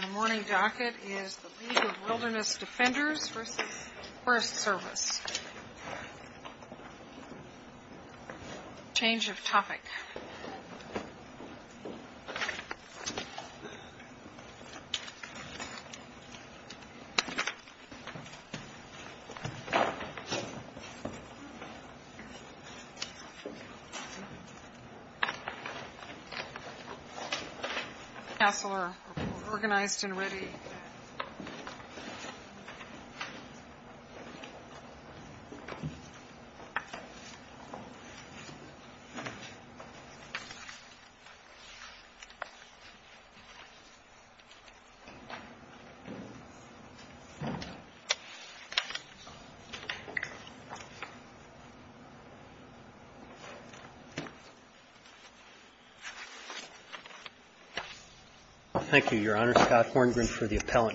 The morning docket is the League of Wilderness Defenders v. Forest Service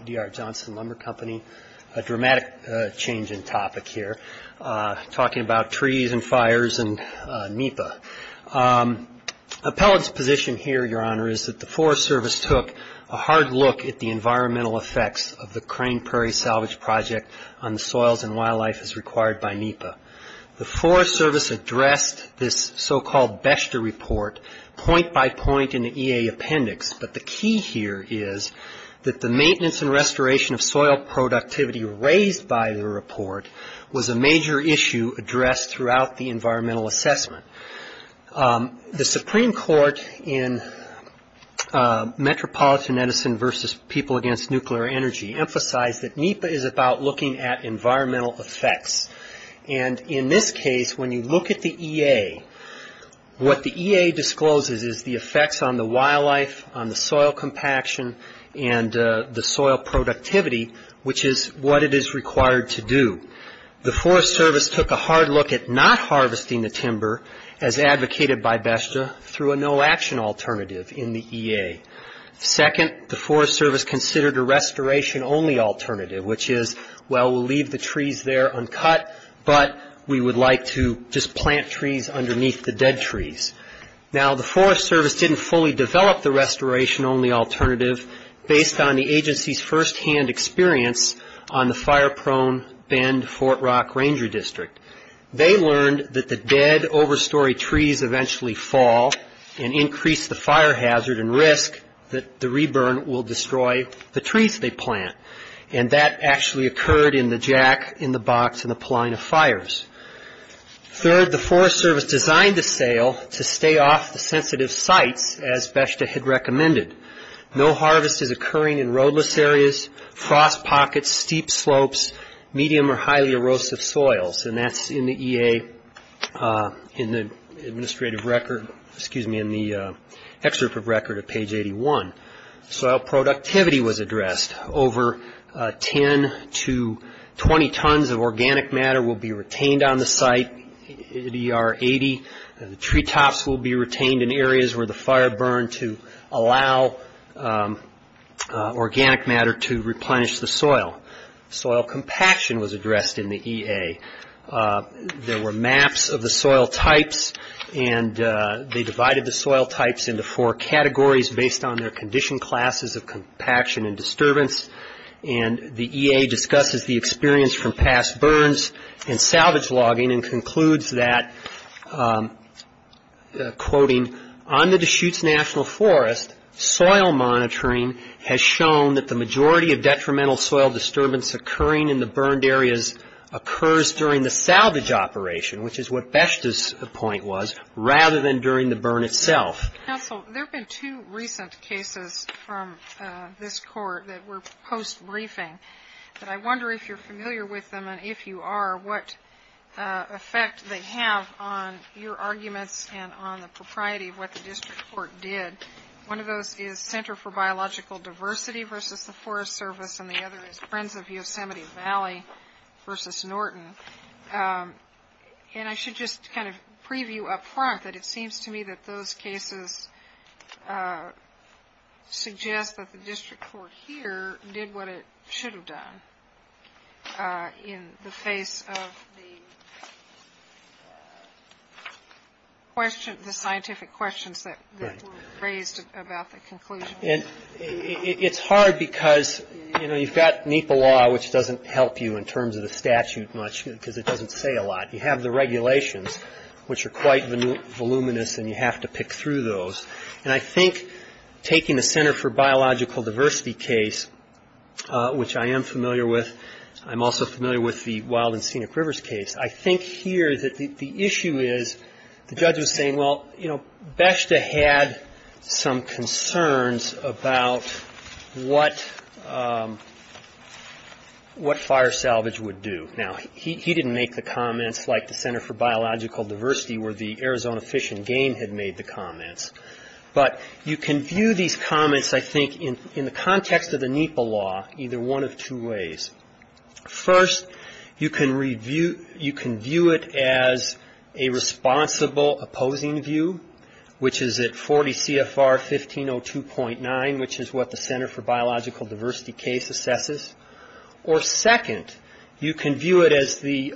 D.R. Johnson Lumber Company, a dramatic change in topic here, talking about trees and fires and NEPA. Appellate's position here, Your Honor, is that the Forest Service took a hard look at the environmental effects of the Crane Prairie Salvage Project on the soils and wildlife as required by NEPA. The Forest Service addressed this so-called BESHTA report point by point in the EA appendix, but the key here is that the maintenance and restoration of environmental assessment. The Supreme Court in Metropolitan Edison v. People Against Nuclear Energy emphasized that NEPA is about looking at environmental effects. And in this case, when you look at the EA, what the EA discloses is the effects on the wildlife, on the soil compaction and the soil productivity, which is what it is required to do. The Forest Service took a hard look at not harvesting the timber, as advocated by BESHTA, through a no-action alternative in the EA. Second, the Forest Service considered a restoration-only alternative, which is, well, we'll leave the trees there uncut, but we would like to just plant trees underneath the dead trees. Now, the Forest Service didn't fully develop the restoration-only alternative based on the agency's firsthand experience on the fire-prone Bend-Fort Rock Ranger District. They learned that the dead, overstory trees eventually fall and increase the fire hazard and risk that the re-burn will destroy the trees they plant. And that actually occurred in the jack, in the box, in the pline of fires. Third, the Forest Service designed the sale to stay off the sensitive sites, as BESHTA had recommended. No harvest is occurring in roadless areas, frost pockets, steep slopes, medium or highly erosive soils. And that's in the EA, in the administrative record, excuse me, in the excerpt of record at page 81. Soil productivity was addressed. Over 10 to 20 tons of organic matter will be retained on the site, EDR 80. The treetops will be retained in areas where the fire burned to allow organic matter to replenish the soil. Soil compaction was addressed in the EA. There were maps of the soil types and they divided the soil types into four categories based on their condition classes of compaction and disturbance. And the EA discusses the experience from past burns and salvage logging and concludes that, quoting, on the Deschutes National Forest, soil monitoring has shown that the majority of detrimental soil disturbance occurring in the burned areas occurs during the salvage operation, which is what BESHTA's point was, rather than during the burn itself. Counsel, there have been two recent cases from this Court that were post-briefing. But I wonder if you're familiar with them, and if you are, what effect they have on your district court did. One of those is Center for Biological Diversity versus the Forest Service, and the other is Friends of Yosemite Valley versus Norton. And I should just kind of preview up front that it seems to me that those cases suggest that the district court here did what it should have done in the face of the question, the scientific questions that were raised about the conclusion. And it's hard because, you know, you've got NEPA law, which doesn't help you in terms of the statute much because it doesn't say a lot. You have the regulations, which are quite voluminous and you have to pick through those. And I think taking the Center for Biological Diversity case, which I am familiar with, I'm also familiar with the Wild and Scenic Rivers case, I think here that the issue is, the judge was saying, well, you know, BESHTA had some concerns about what fire salvage would do. Now, he didn't make the comments like the Center for Biological Diversity where the Arizona Fish and Game had made the comments. But you can view these comments, I think, in the context of the NEPA law either one of two ways. First, you can view it as a responsible opposing view, which is at 40 CFR 1502.9, which is what the Center for Biological Diversity case assesses. Or second, you can view it as the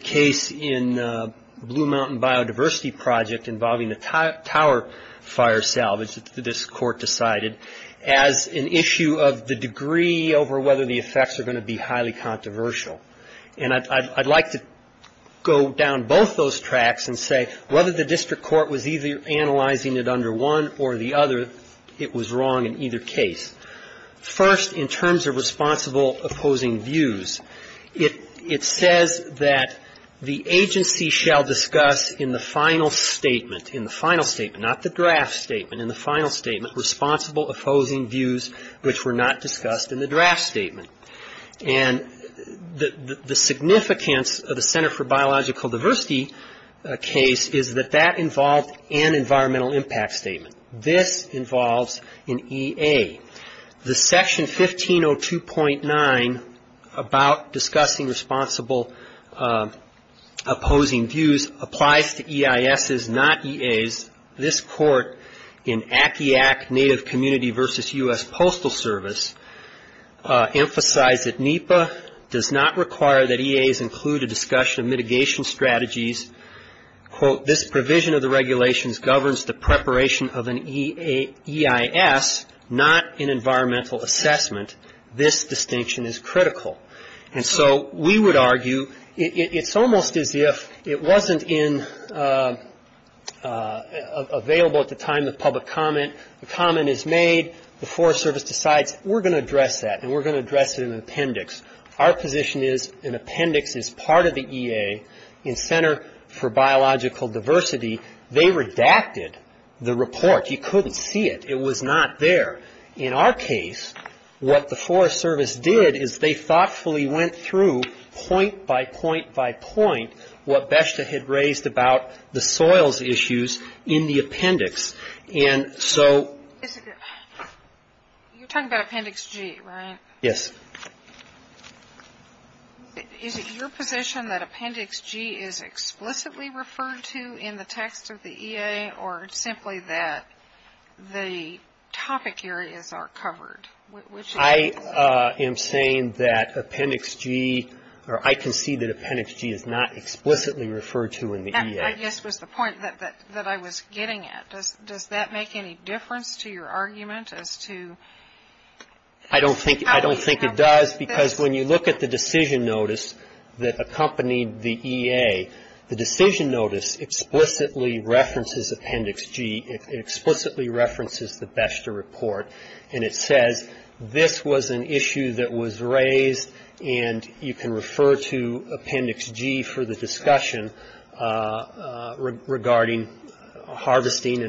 case in Blue Mountain Biodiversity Project involving the tower fire salvage that this court decided as an issue of the degree over whether the effects are going to be highly controversial. And I'd like to go down both those tracks and say whether the district court was either analyzing it under one or the other, it was wrong in either case. First, in terms of responsible opposing views, it says that the agency shall discuss in the final statement, in the final statement, not the draft statement, in the final statement, responsible opposing views which were not discussed in the draft statement. And the significance of the Center for Biological Diversity case is that that involved an environmental impact statement. This involves an EA. The section 1502.9 about discussing responsible opposing views applies to EISs, not EAs. This court in Akiak Native Community versus U.S. Postal Service emphasized that NEPA does not require that EAs include a discussion of mitigation strategies, quote, this provision of the regulations governs the preparation of an EIS, not an environmental assessment. This distinction is critical. And so we would argue it's almost as if it wasn't in, available at the time of public comment. The comment is made, the Forest Service decides we're going to address that and we're going to address it in an appendix. Our position is an appendix is part of the EA. In Center for Biological Diversity, they redacted the report. You couldn't see it. It was not there. In our case, what the Forest Service did is they thoughtfully went through point by point by point what BESHTA had raised about the soils issues in the appendix. And so... You're talking about Appendix G, right? Yes. Is it your position that Appendix G is explicitly referred to in the text of the EA or simply that the topic areas are covered? I am saying that Appendix G, or I can see that Appendix G is not explicitly referred to in the EA. I guess was the point that I was getting at. Does that make any difference to your argument as to... I don't think it does because when you look at the decision notice that accompanied the EA, the decision notice explicitly references Appendix G. It explicitly references the BESHTA report and it says this was an issue that was raised and you can refer to Appendix G for the discussion regarding harvesting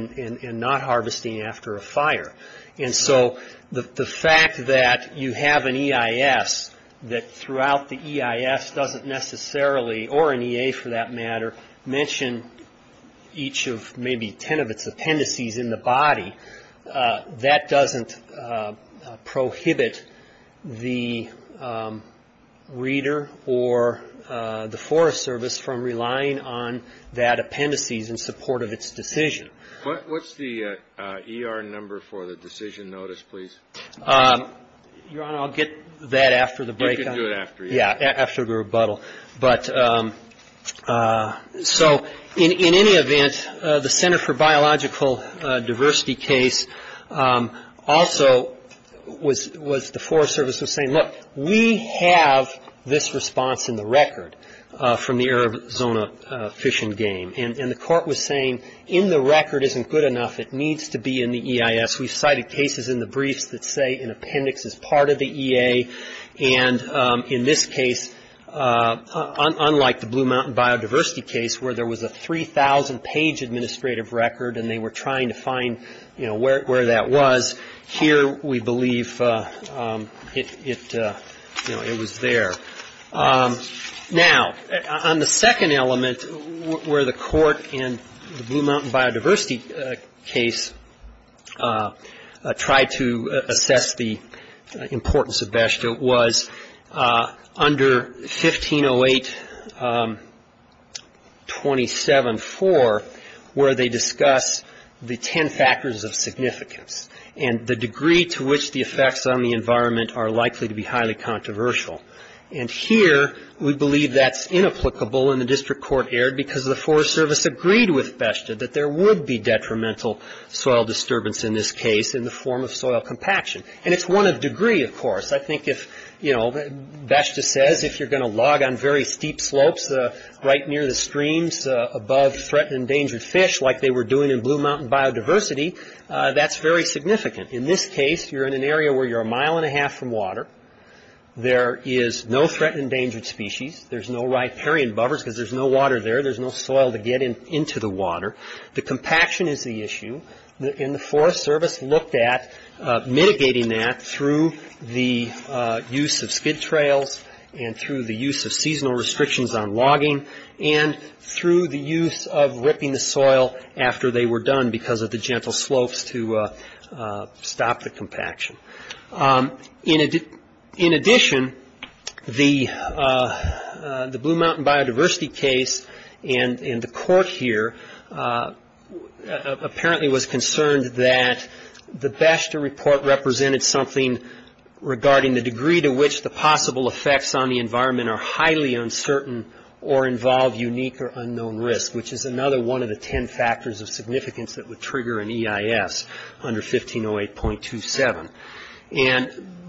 and not harvesting after a fire. And so the fact that you have an EIS that throughout the EIS doesn't necessarily, or an EA for that matter, mention each of maybe ten of its appendices in the body, that doesn't prohibit the reader or the Forest Service from relying on that appendices in support of its decision. What's the ER number for the decision notice, please? Your Honor, I'll get that after the break. You can do it after. Yeah, after the rebuttal. But so in any event, the Center for Biological Diversity case also was, the Forest Service was saying, look, we have this response in the record from the Arizona Fish and Game. And the court was saying in the record isn't good enough. It needs to be in the EIS. We've cited cases in the briefs that say an appendix is part of the EA. And in this case, unlike the Blue Mountain Biodiversity case where there was a 3,000-page administrative record and they were trying to find where that was, here we believe it was there. Now on the second element where the court in the Blue Mountain Biodiversity case tried to assess the importance of BESHTA was under 1508.27.4 where they discuss the ten factors of significance and the degree to which the effects on the environment are likely to be highly controversial. And here we believe that's inapplicable and the district court erred because the Forest Service agreed with BESHTA that there would be detrimental soil disturbance in this case in the form of soil compaction. And it's one of degree, of course. I think if, you know, BESHTA says if you're going to log on very steep slopes right near the streams above threatened endangered fish like they were doing in Blue Mountain Biodiversity, that's very significant. In this case, you're in an area where you're a mile and a half from water. There is no threatened endangered species. There's no riparian bovers because there's no water there. There's no soil to get into the water. The compaction is the issue and the Forest Service looked at mitigating that through the use of skid trails and through the use of seasonal restrictions on logging and through the use of ripping the soil after they were done because of the gentle slopes to stop the compaction. In addition, the Blue Mountain Biodiversity case and the court here apparently was concerned that the BESHTA report represented something regarding the degree to which the possible effects on the environment are highly uncertain or involve unique or unknown risk, which is another one of the ten factors of significance that would trigger an EIS under 1508.27.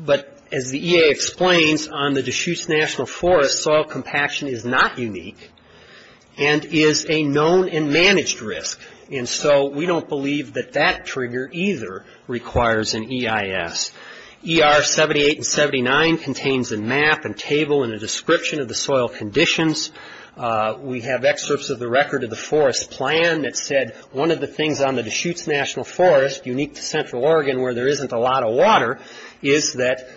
But as the EA explains, on the Deschutes National Forest, soil compaction is not unique and is a known and managed risk. And so we don't believe that that trigger either requires an EIS. ER 78 and 79 contains a map and table and a description of the soil conditions. We have excerpts of the record of the Forest Plan that said one of the things on the Deschutes National Forest, unique to Central Oregon where there isn't a lot of water, is that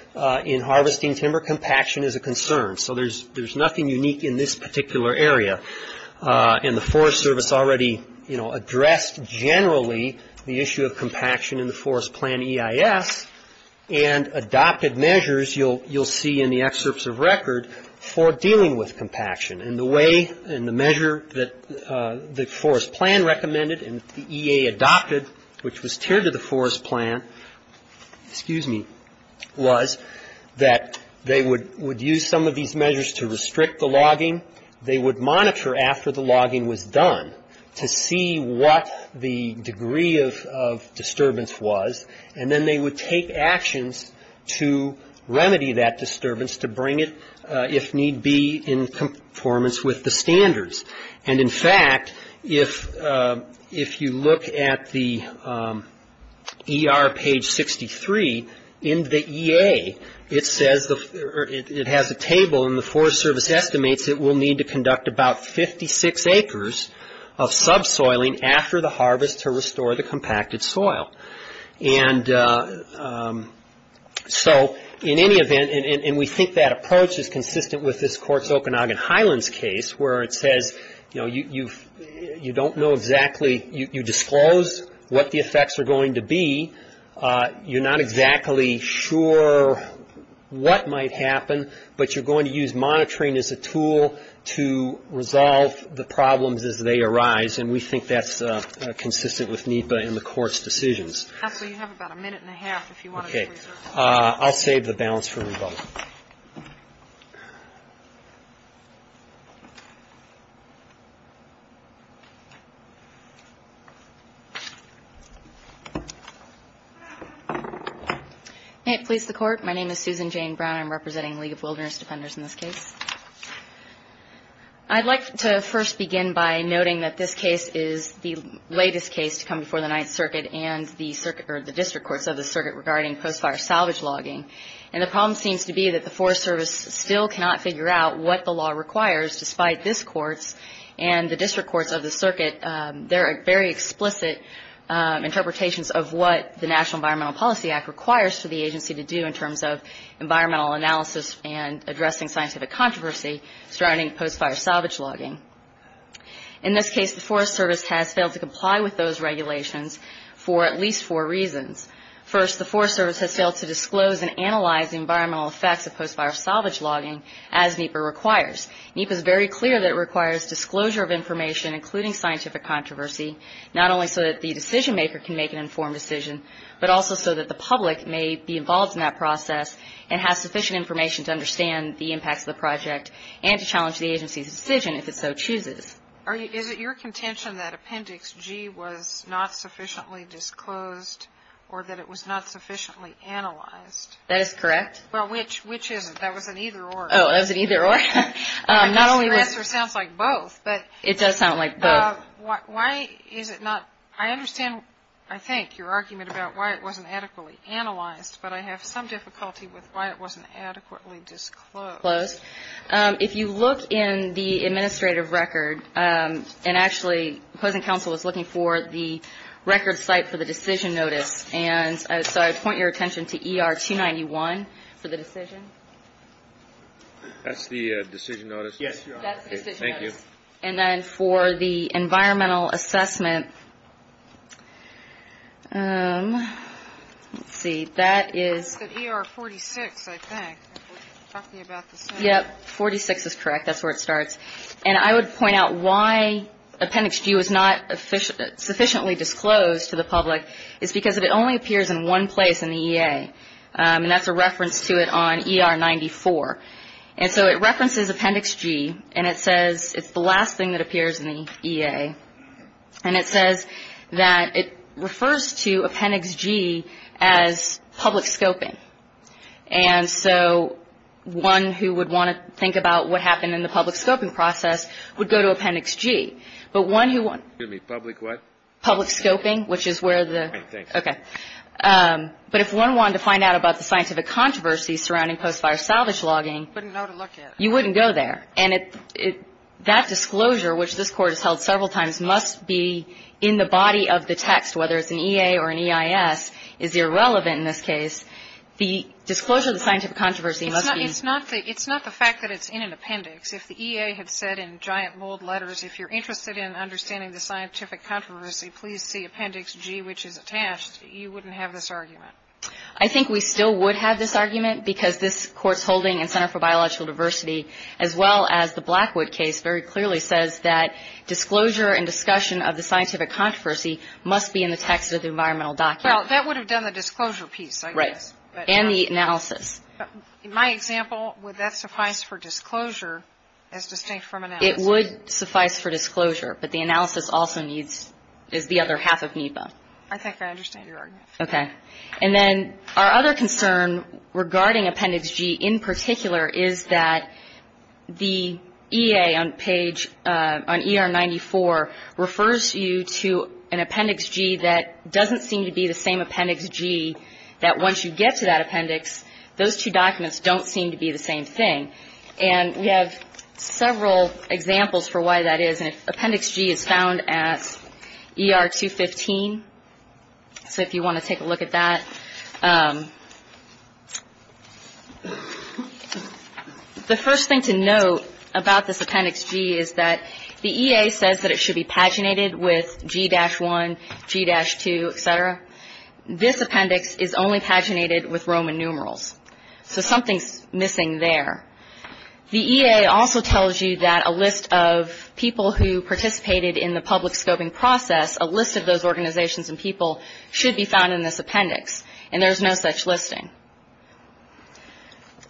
in harvesting timber compaction is a concern. So there's nothing unique in this particular area. And the Forest Service already addressed generally the issue of compaction in the Forest Plan EIS and adopted measures you'll see in the excerpts of record for dealing with compaction. And the way and the measure that the Forest Plan recommended and the EA adopted, which was tiered to the Forest Plan, excuse me, was that they would use some of these measures to restrict the logging. They would monitor after the logging was done to see what the degree of disturbance was. And then they would take actions to remedy that disturbance to bring it, if need be, in conformance with the standards. And in fact, if you look at the ER page 63, in the EA it says, it has a table and the Forest Service estimates it will need to conduct about 56 acres of subsoiling after the harvest to restore the compacted timber. So in any event, and we think that approach is consistent with this Court's Okanagan Highlands case where it says, you know, you don't know exactly, you disclose what the effects are going to be. You're not exactly sure what might happen, but you're going to use monitoring as a tool to resolve the problems as they arise. And we think that's consistent with NEPA and the Court's decisions. Okay. I'll save the balance for rebuttal. May it please the Court. My name is Susan Jane Brown. I'm representing the League of Wilderness Defenders in this case. I'd like to first begin by noting that this case is the latest case to come before the Ninth Circuit and the District Courts of the Circuit regarding post-fire salvage logging. And the problem seems to be that the Forest Service still cannot figure out what the law requires, despite this Court's and the District Courts of the Circuit, their very explicit interpretations of what the National Environmental Policy Act requires for the agency to do in terms of environmental analysis and addressing scientific controversy surrounding post-fire salvage logging. In this case, the Forest Service has failed to comply with those regulations for at least four reasons. First, the Forest Service has failed to disclose and analyze the environmental effects of post-fire salvage logging as NEPA requires. NEPA is very clear that it requires disclosure of information, including scientific controversy, not only so that the decision maker can make an informed decision, but also so that the public may be involved in that project and to challenge the agency's decision if it so chooses. Is it your contention that Appendix G was not sufficiently disclosed or that it was not sufficiently analyzed? That is correct. Which is it? That was an either-or. Oh, that was an either-or? I guess your answer sounds like both. It does sound like both. I understand, I think, your argument about why it wasn't adequately analyzed, but I have some difficulty with why it wasn't adequately disclosed. If you look in the administrative record, and actually, opposing counsel was looking for the record site for the decision notice, and so I would point your attention to ER 291 for the decision. That's the decision notice? Yes. That's the decision notice. Thank you. And then for the environmental assessment, let's see, that is... Yep, 46 is correct. That's where it starts. And I would point out why Appendix G was not sufficiently disclosed to the public is because it only appears in one place in the EA, and that's a reference to it on ER 94. And so it references Appendix G, and it says it's the last thing that appears in the EA, and it says that it refers to Appendix G as public scoping. And so one who would want to think about what happened in the public scoping process would go to Appendix G. But one who... Excuse me, public what? Public scoping, which is where the... All right, thanks. Okay. But if one wanted to find out about the scientific controversy surrounding post-fire salvage logging... You wouldn't know to look it. You wouldn't go there. And that disclosure, which this Court has held several times, must be in the body of the text, whether it's an EA or an EIS, is irrelevant in this case. The disclosure of the scientific controversy must be... It's not the fact that it's in an appendix. If the EA had said in giant mold letters, if you're interested in understanding the scientific controversy, please see Appendix G, which is attached, you wouldn't have this argument. I think we still would have this argument because this Court's holding in Center for Biological Diversity, as well as the Blackwood case, very clearly says that disclosure and discussion of the scientific controversy must be in the text of the environmental document. Well, that would have done the disclosure piece, I guess. Right. And the analysis. In my example, would that suffice for disclosure as distinct from analysis? It would suffice for disclosure, but the analysis also needs the other half of NEPA. I think I understand your argument. Okay. And then our other concern regarding Appendix G in particular is that the EA on page, on ER 94, refers you to an Appendix G that doesn't seem to be the same Appendix G, that once you get to that appendix, those two documents don't seem to be the same thing. And we have several examples for why that is. And Appendix G is found at ER 215. So if you want to take a look at that. The first thing to note about this Appendix G is that the EA says that it should be paginated with G-1, G-2, et cetera. This appendix is only paginated with Roman numerals. So something's missing there. The EA also tells you that a list of people who participated in the public scoping process, a list of those organizations and people should be found in this appendix. And there's no such listing.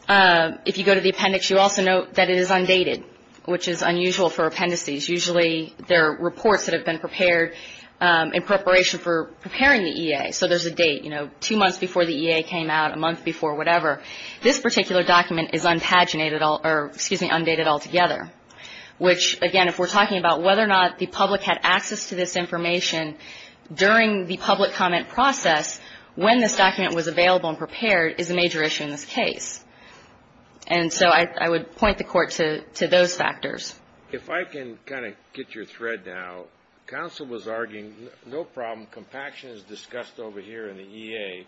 If you go to the appendix, you also note that it is undated, which is unusual for appendices. Usually there are reports that have been prepared in preparation for preparing the EA. So there's a date, you know, two months before the EA came out, a month before, whatever. This particular document is undated altogether, which, again, if we're talking about whether or not the public had access to this information during the public comment process, when this document was available and prepared is a major issue in this case. And so I would point the Court to those factors. If I can kind of get your thread now. Counsel was arguing no problem, compaction is discussed over here in the EA,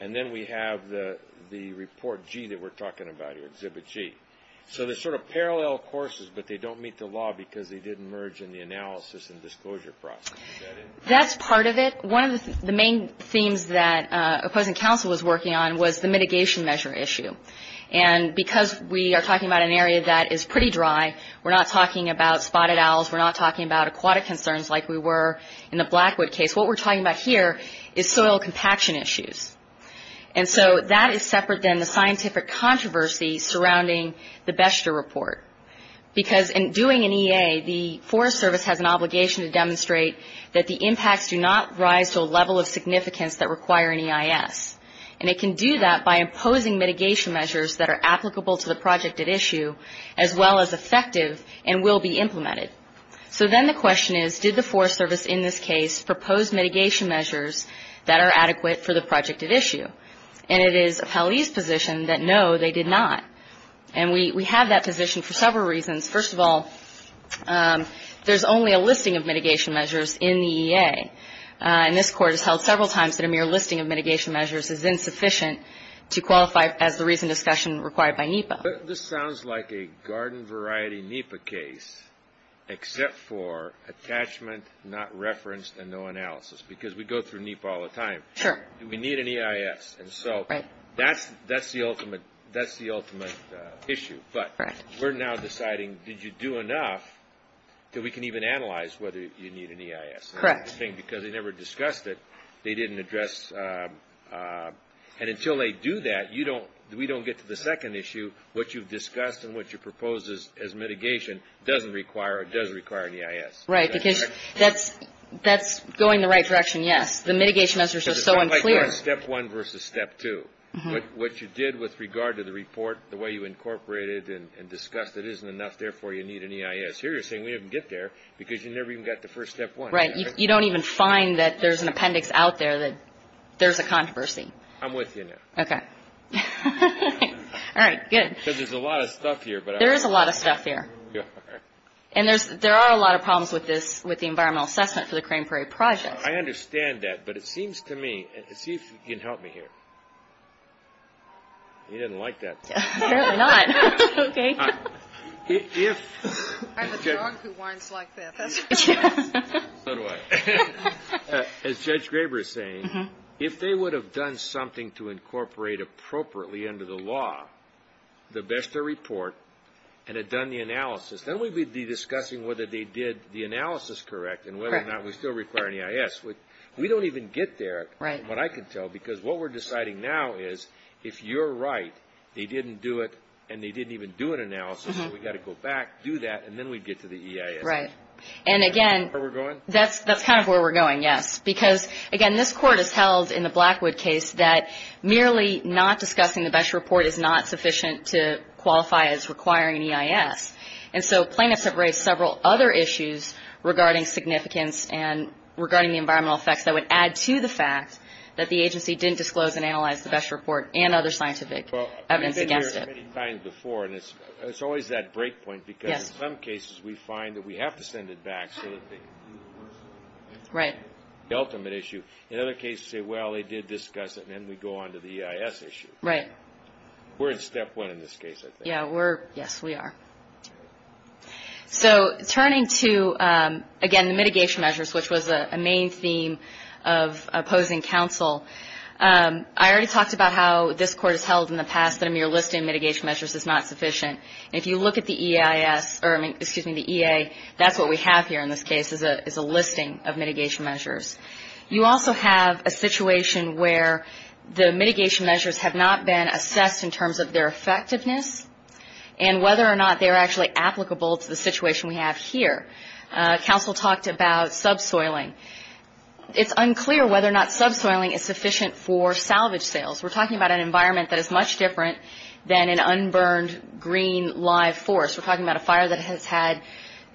and then we have the Report G that we're talking about here, Exhibit G. So they're sort of parallel courses, but they don't meet the law because they didn't merge in the analysis and disclosure process. Is that it? That's part of it. One of the main themes that opposing counsel was working on was the mitigation measure issue. And because we are talking about an area that is pretty dry, we're not talking about spotted owls, we're not talking about aquatic concerns like we were in the Blackwood case. What we're talking about here is soil compaction issues. And so that is separate than the scientific controversy surrounding the Beshter Report. Because in doing an EA, the Forest Service has an obligation to demonstrate that the impacts do not rise to a level of significance that require an EIS. And it can do that by imposing mitigation measures that are applicable to the project at issue, as well as effective and will be implemented. So then the question is, did the Forest Service in this case propose mitigation measures that are adequate for the project at issue? And it is a police position that, no, they did not. And we have that position for several reasons. First of all, there's only a listing of mitigation measures in the EA. And this Court has held several times that a mere listing of mitigation measures is insufficient to qualify as the reason discussion required by NEPA. This sounds like a garden variety NEPA case, except for attachment not referenced and no analysis. Because we go through NEPA all the time. Do we need an EIS? And so that's the ultimate issue. But we're now deciding, did you do enough that we can even analyze whether you need an EIS? Because they never discussed it. They didn't address. And until they do that, we don't get to the second issue, what you've discussed and what you proposed as mitigation doesn't require or does require an EIS. Right, because that's going the right direction, yes. The mitigation measures are so unclear. Step one versus step two. What you did with regard to the report, the way you incorporated and discussed it isn't enough, therefore you need an EIS. Here you're saying we didn't get there because you never even got to first step one. Right. You don't even find that there's an appendix out there that there's a controversy. I'm with you now. Okay. All right, good. Because there's a lot of stuff here. There is a lot of stuff here. And there are a lot of problems with the environmental assessment for the Crane Prairie Project. I understand that, but it seems to me, and see if you can help me here. You didn't like that. Apparently not. Okay. I have a dog who whines like this. So do I. As Judge Graber is saying, if they would have done something to incorporate appropriately under the law, the BESTA report, and had done the analysis, then we'd be discussing whether they did the analysis correct and whether or not we still require an EIS. We don't even get there. Right. From what I can tell, because what we're deciding now is if you're right, they didn't do it and they didn't even do an analysis, we've got to go back, do that, and then we'd get to the EIS. Right. And, again, that's kind of where we're going, yes. Because, again, this Court has held in the Blackwood case that merely not discussing the BESTA report is not sufficient to qualify as requiring an EIS. And so plaintiffs have raised several other issues regarding significance and regarding the environmental effects that would add to the fact that the agency didn't disclose and analyze the BESTA report and other scientific evidence against it. Well, you've been here many times before, and it's always that break point. Yes. Because in some cases we find that we have to send it back so that they do the work. Right. The ultimate issue. In other cases we say, well, they did discuss it, and then we go on to the EIS issue. Right. We're at step one in this case, I think. Yes, we are. So turning to, again, the mitigation measures, which was a main theme of opposing counsel, I already talked about how this Court has held in the past that a mere listing of mitigation measures is not sufficient. And if you look at the EIS, or, excuse me, the EA, that's what we have here in this case, is a listing of mitigation measures. You also have a situation where the mitigation measures have not been assessed in terms of their effectiveness and whether or not they're actually applicable to the situation we have here. Counsel talked about subsoiling. It's unclear whether or not subsoiling is sufficient for salvage sales. We're talking about an environment that is much different than an unburned, green, live forest. We're talking about a fire that has had,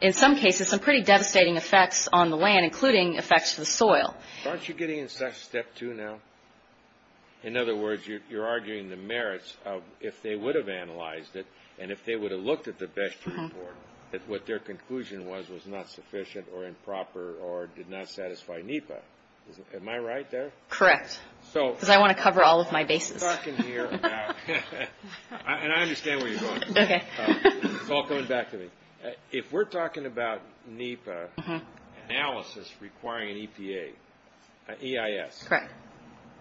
in some cases, some pretty devastating effects on the land, including effects to the soil. Aren't you getting into step two now? In other words, you're arguing the merits of if they would have analyzed it and if they would have looked at the best report, that what their conclusion was was not sufficient or improper or did not satisfy NEPA. Am I right there? Correct. Because I want to cover all of my bases. I'm talking here about – and I understand where you're going. Okay. It's all coming back to me. If we're talking about NEPA analysis requiring an EPA, EIS. Correct.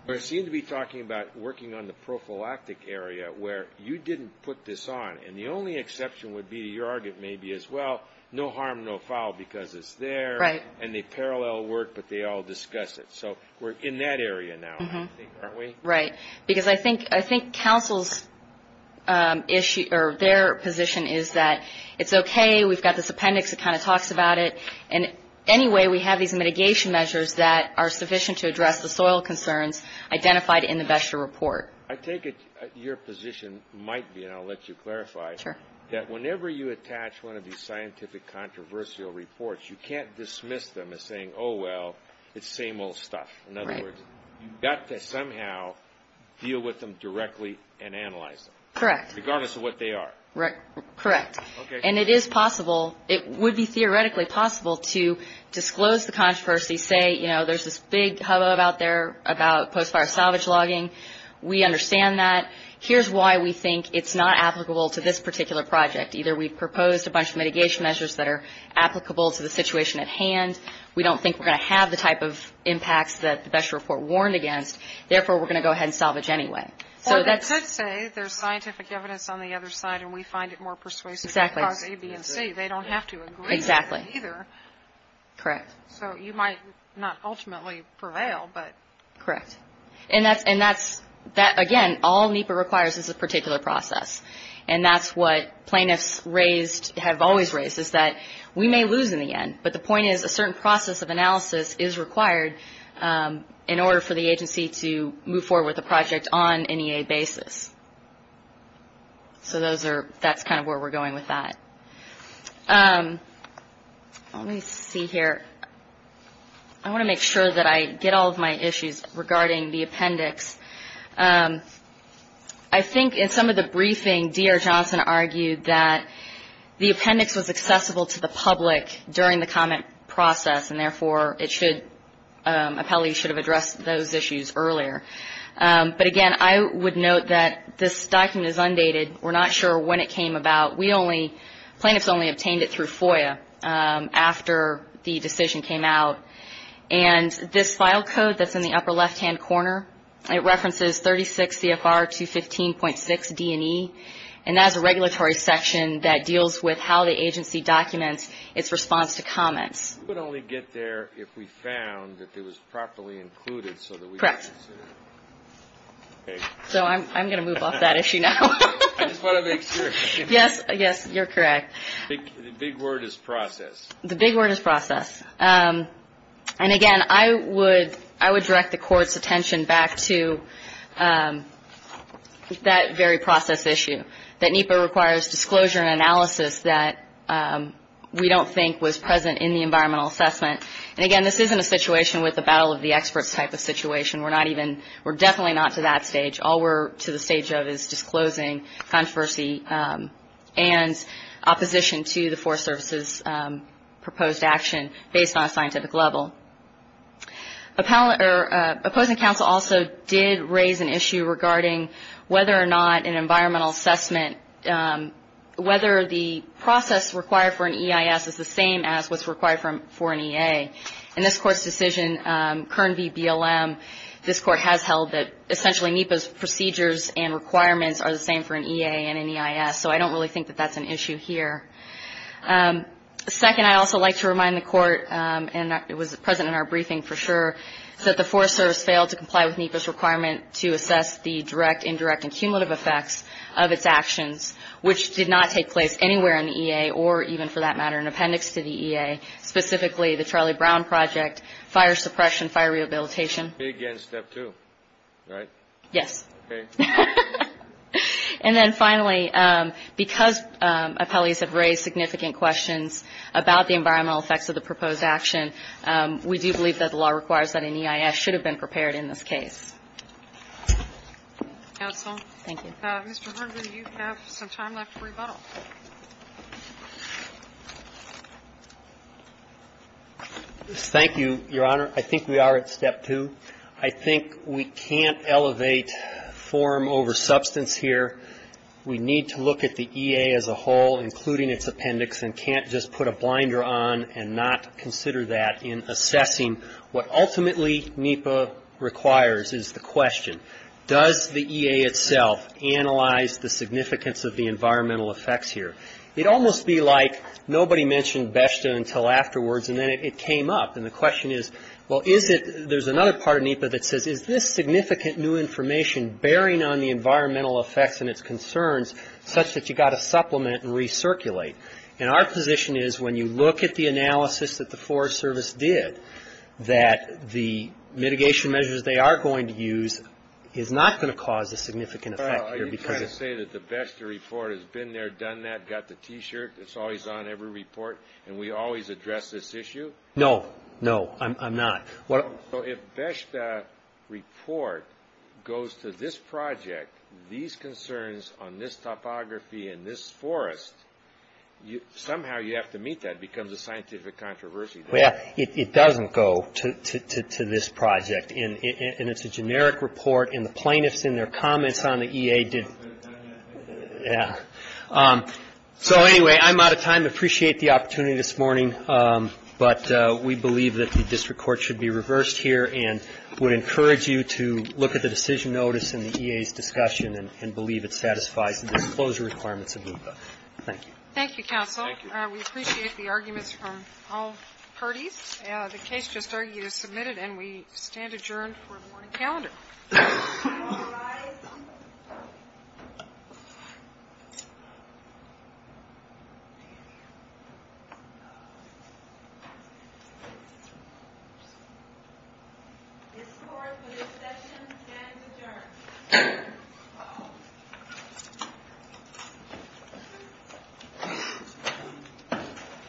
We seem to be talking about working on the prophylactic area where you didn't put this on. And the only exception would be – your argument may be as well, no harm, no foul, because it's there. Right. And they parallel work, but they all discuss it. So we're in that area now, aren't we? Right. Because I think counsel's issue – or their position is that it's okay, we've got this appendix that kind of talks about it, and anyway we have these mitigation measures that are sufficient to address the soil concerns identified in the best year report. I take it your position might be, and I'll let you clarify, that whenever you attach one of these scientific controversial reports, you can't dismiss them as saying, oh, well, it's same old stuff. Right. In other words, you've got to somehow deal with them directly and analyze them. Correct. Regardless of what they are. Correct. Okay. And it is possible – it would be theoretically possible to disclose the controversy, say, you know, there's this big hubbub out there about post-fire salvage logging. We understand that. Here's why we think it's not applicable to this particular project. Either we've proposed a bunch of mitigation measures that are applicable to the situation at hand. We don't think we're going to have the type of impacts that the best year report warned against. Therefore, we're going to go ahead and salvage anyway. Or they could say there's scientific evidence on the other side and we find it more persuasive to cause A, B, and C. Exactly. They don't have to agree to that either. Exactly. Correct. So you might not ultimately prevail, but. Correct. And that's, again, all NEPA requires is a particular process, and that's what plaintiffs have always raised is that we may lose in the end, but the point is a certain process of analysis is required in order for the agency to move forward with a project on an EA basis. So that's kind of where we're going with that. Let me see here. I want to make sure that I get all of my issues regarding the appendix. I think in some of the briefing, D.R. Johnson argued that the appendix was accessible to the public during the comment process, and therefore it should, appellees should have addressed those issues earlier. But, again, I would note that this document is undated. We're not sure when it came about. We only, plaintiffs only obtained it through FOIA after the decision came out. And this file code that's in the upper left-hand corner, it references 36 CFR 215.6 D&E, and that is a regulatory section that deals with how the agency documents its response to comments. We would only get there if we found that it was properly included so that we could consider it. Correct. So I'm going to move off that issue now. I just want to make sure. Yes, yes, you're correct. The big word is process. The big word is process. And, again, I would direct the Court's attention back to that very process issue, that NEPA requires disclosure and analysis that we don't think was present in the environmental assessment. And, again, this isn't a situation with a battle of the experts type of situation. We're definitely not to that stage. All we're to the stage of is disclosing controversy and opposition to the Forest Service's proposed action based on a scientific level. Opposing counsel also did raise an issue regarding whether or not an environmental assessment, whether the process required for an EIS is the same as what's required for an EA. In this Court's decision, Kern v. BLM, this Court has held that essentially NEPA's procedures and requirements are the same for an EA and an EIS. So I don't really think that that's an issue here. Second, I'd also like to remind the Court, and it was present in our briefing for sure, that the Forest Service failed to comply with NEPA's requirement to assess the direct, indirect and cumulative effects of its actions, which did not take place anywhere in the EA or even, for that matter, an appendix to the EA, specifically the Charlie Brown Project, fire suppression, fire rehabilitation. Again, step two, right? Yes. Okay. And then finally, because appellees have raised significant questions about the environmental effects of the proposed action, we do believe that the law requires that an EIS should have been prepared in this case. Counsel. Thank you. Mr. Herndon, you have some time left for rebuttal. Thank you, Your Honor. I think we are at step two. I think we can't elevate form over substance here. We need to look at the EA as a whole, including its appendix, and can't just put a blinder on and not consider that in assessing what ultimately NEPA requires is the question, does the EA itself analyze the significance of the environmental effects here? It would almost be like nobody mentioned BESTA until afterwards, and then it came up. And the question is, well, is it – there's another part of NEPA that says, is this significant new information bearing on the environmental effects and its concerns such that you've got to supplement and recirculate? And our position is, when you look at the analysis that the Forest Service did, that the mitigation measures they are going to use is not going to cause a significant effect here. Are you trying to say that the BESTA report has been there, done that, got the T-shirt, it's always on every report, and we always address this issue? No, no, I'm not. So if BESTA report goes to this project, these concerns on this topography and this forest, somehow you have to meet that. It becomes a scientific controversy. Well, it doesn't go to this project, and it's a generic report, and the plaintiffs in their comments on the EA did – yeah. So anyway, I'm out of time. I appreciate the opportunity this morning, but we believe that the district court should be reversed here and would encourage you to look at the decision notice and the EA's discussion and believe it satisfies the disclosure requirements of NEPA. Thank you. Thank you, counsel. Thank you. We appreciate the arguments from all parties. The case just argued is submitted, and we stand adjourned for the morning calendar. All rise. This court for this session stands adjourned.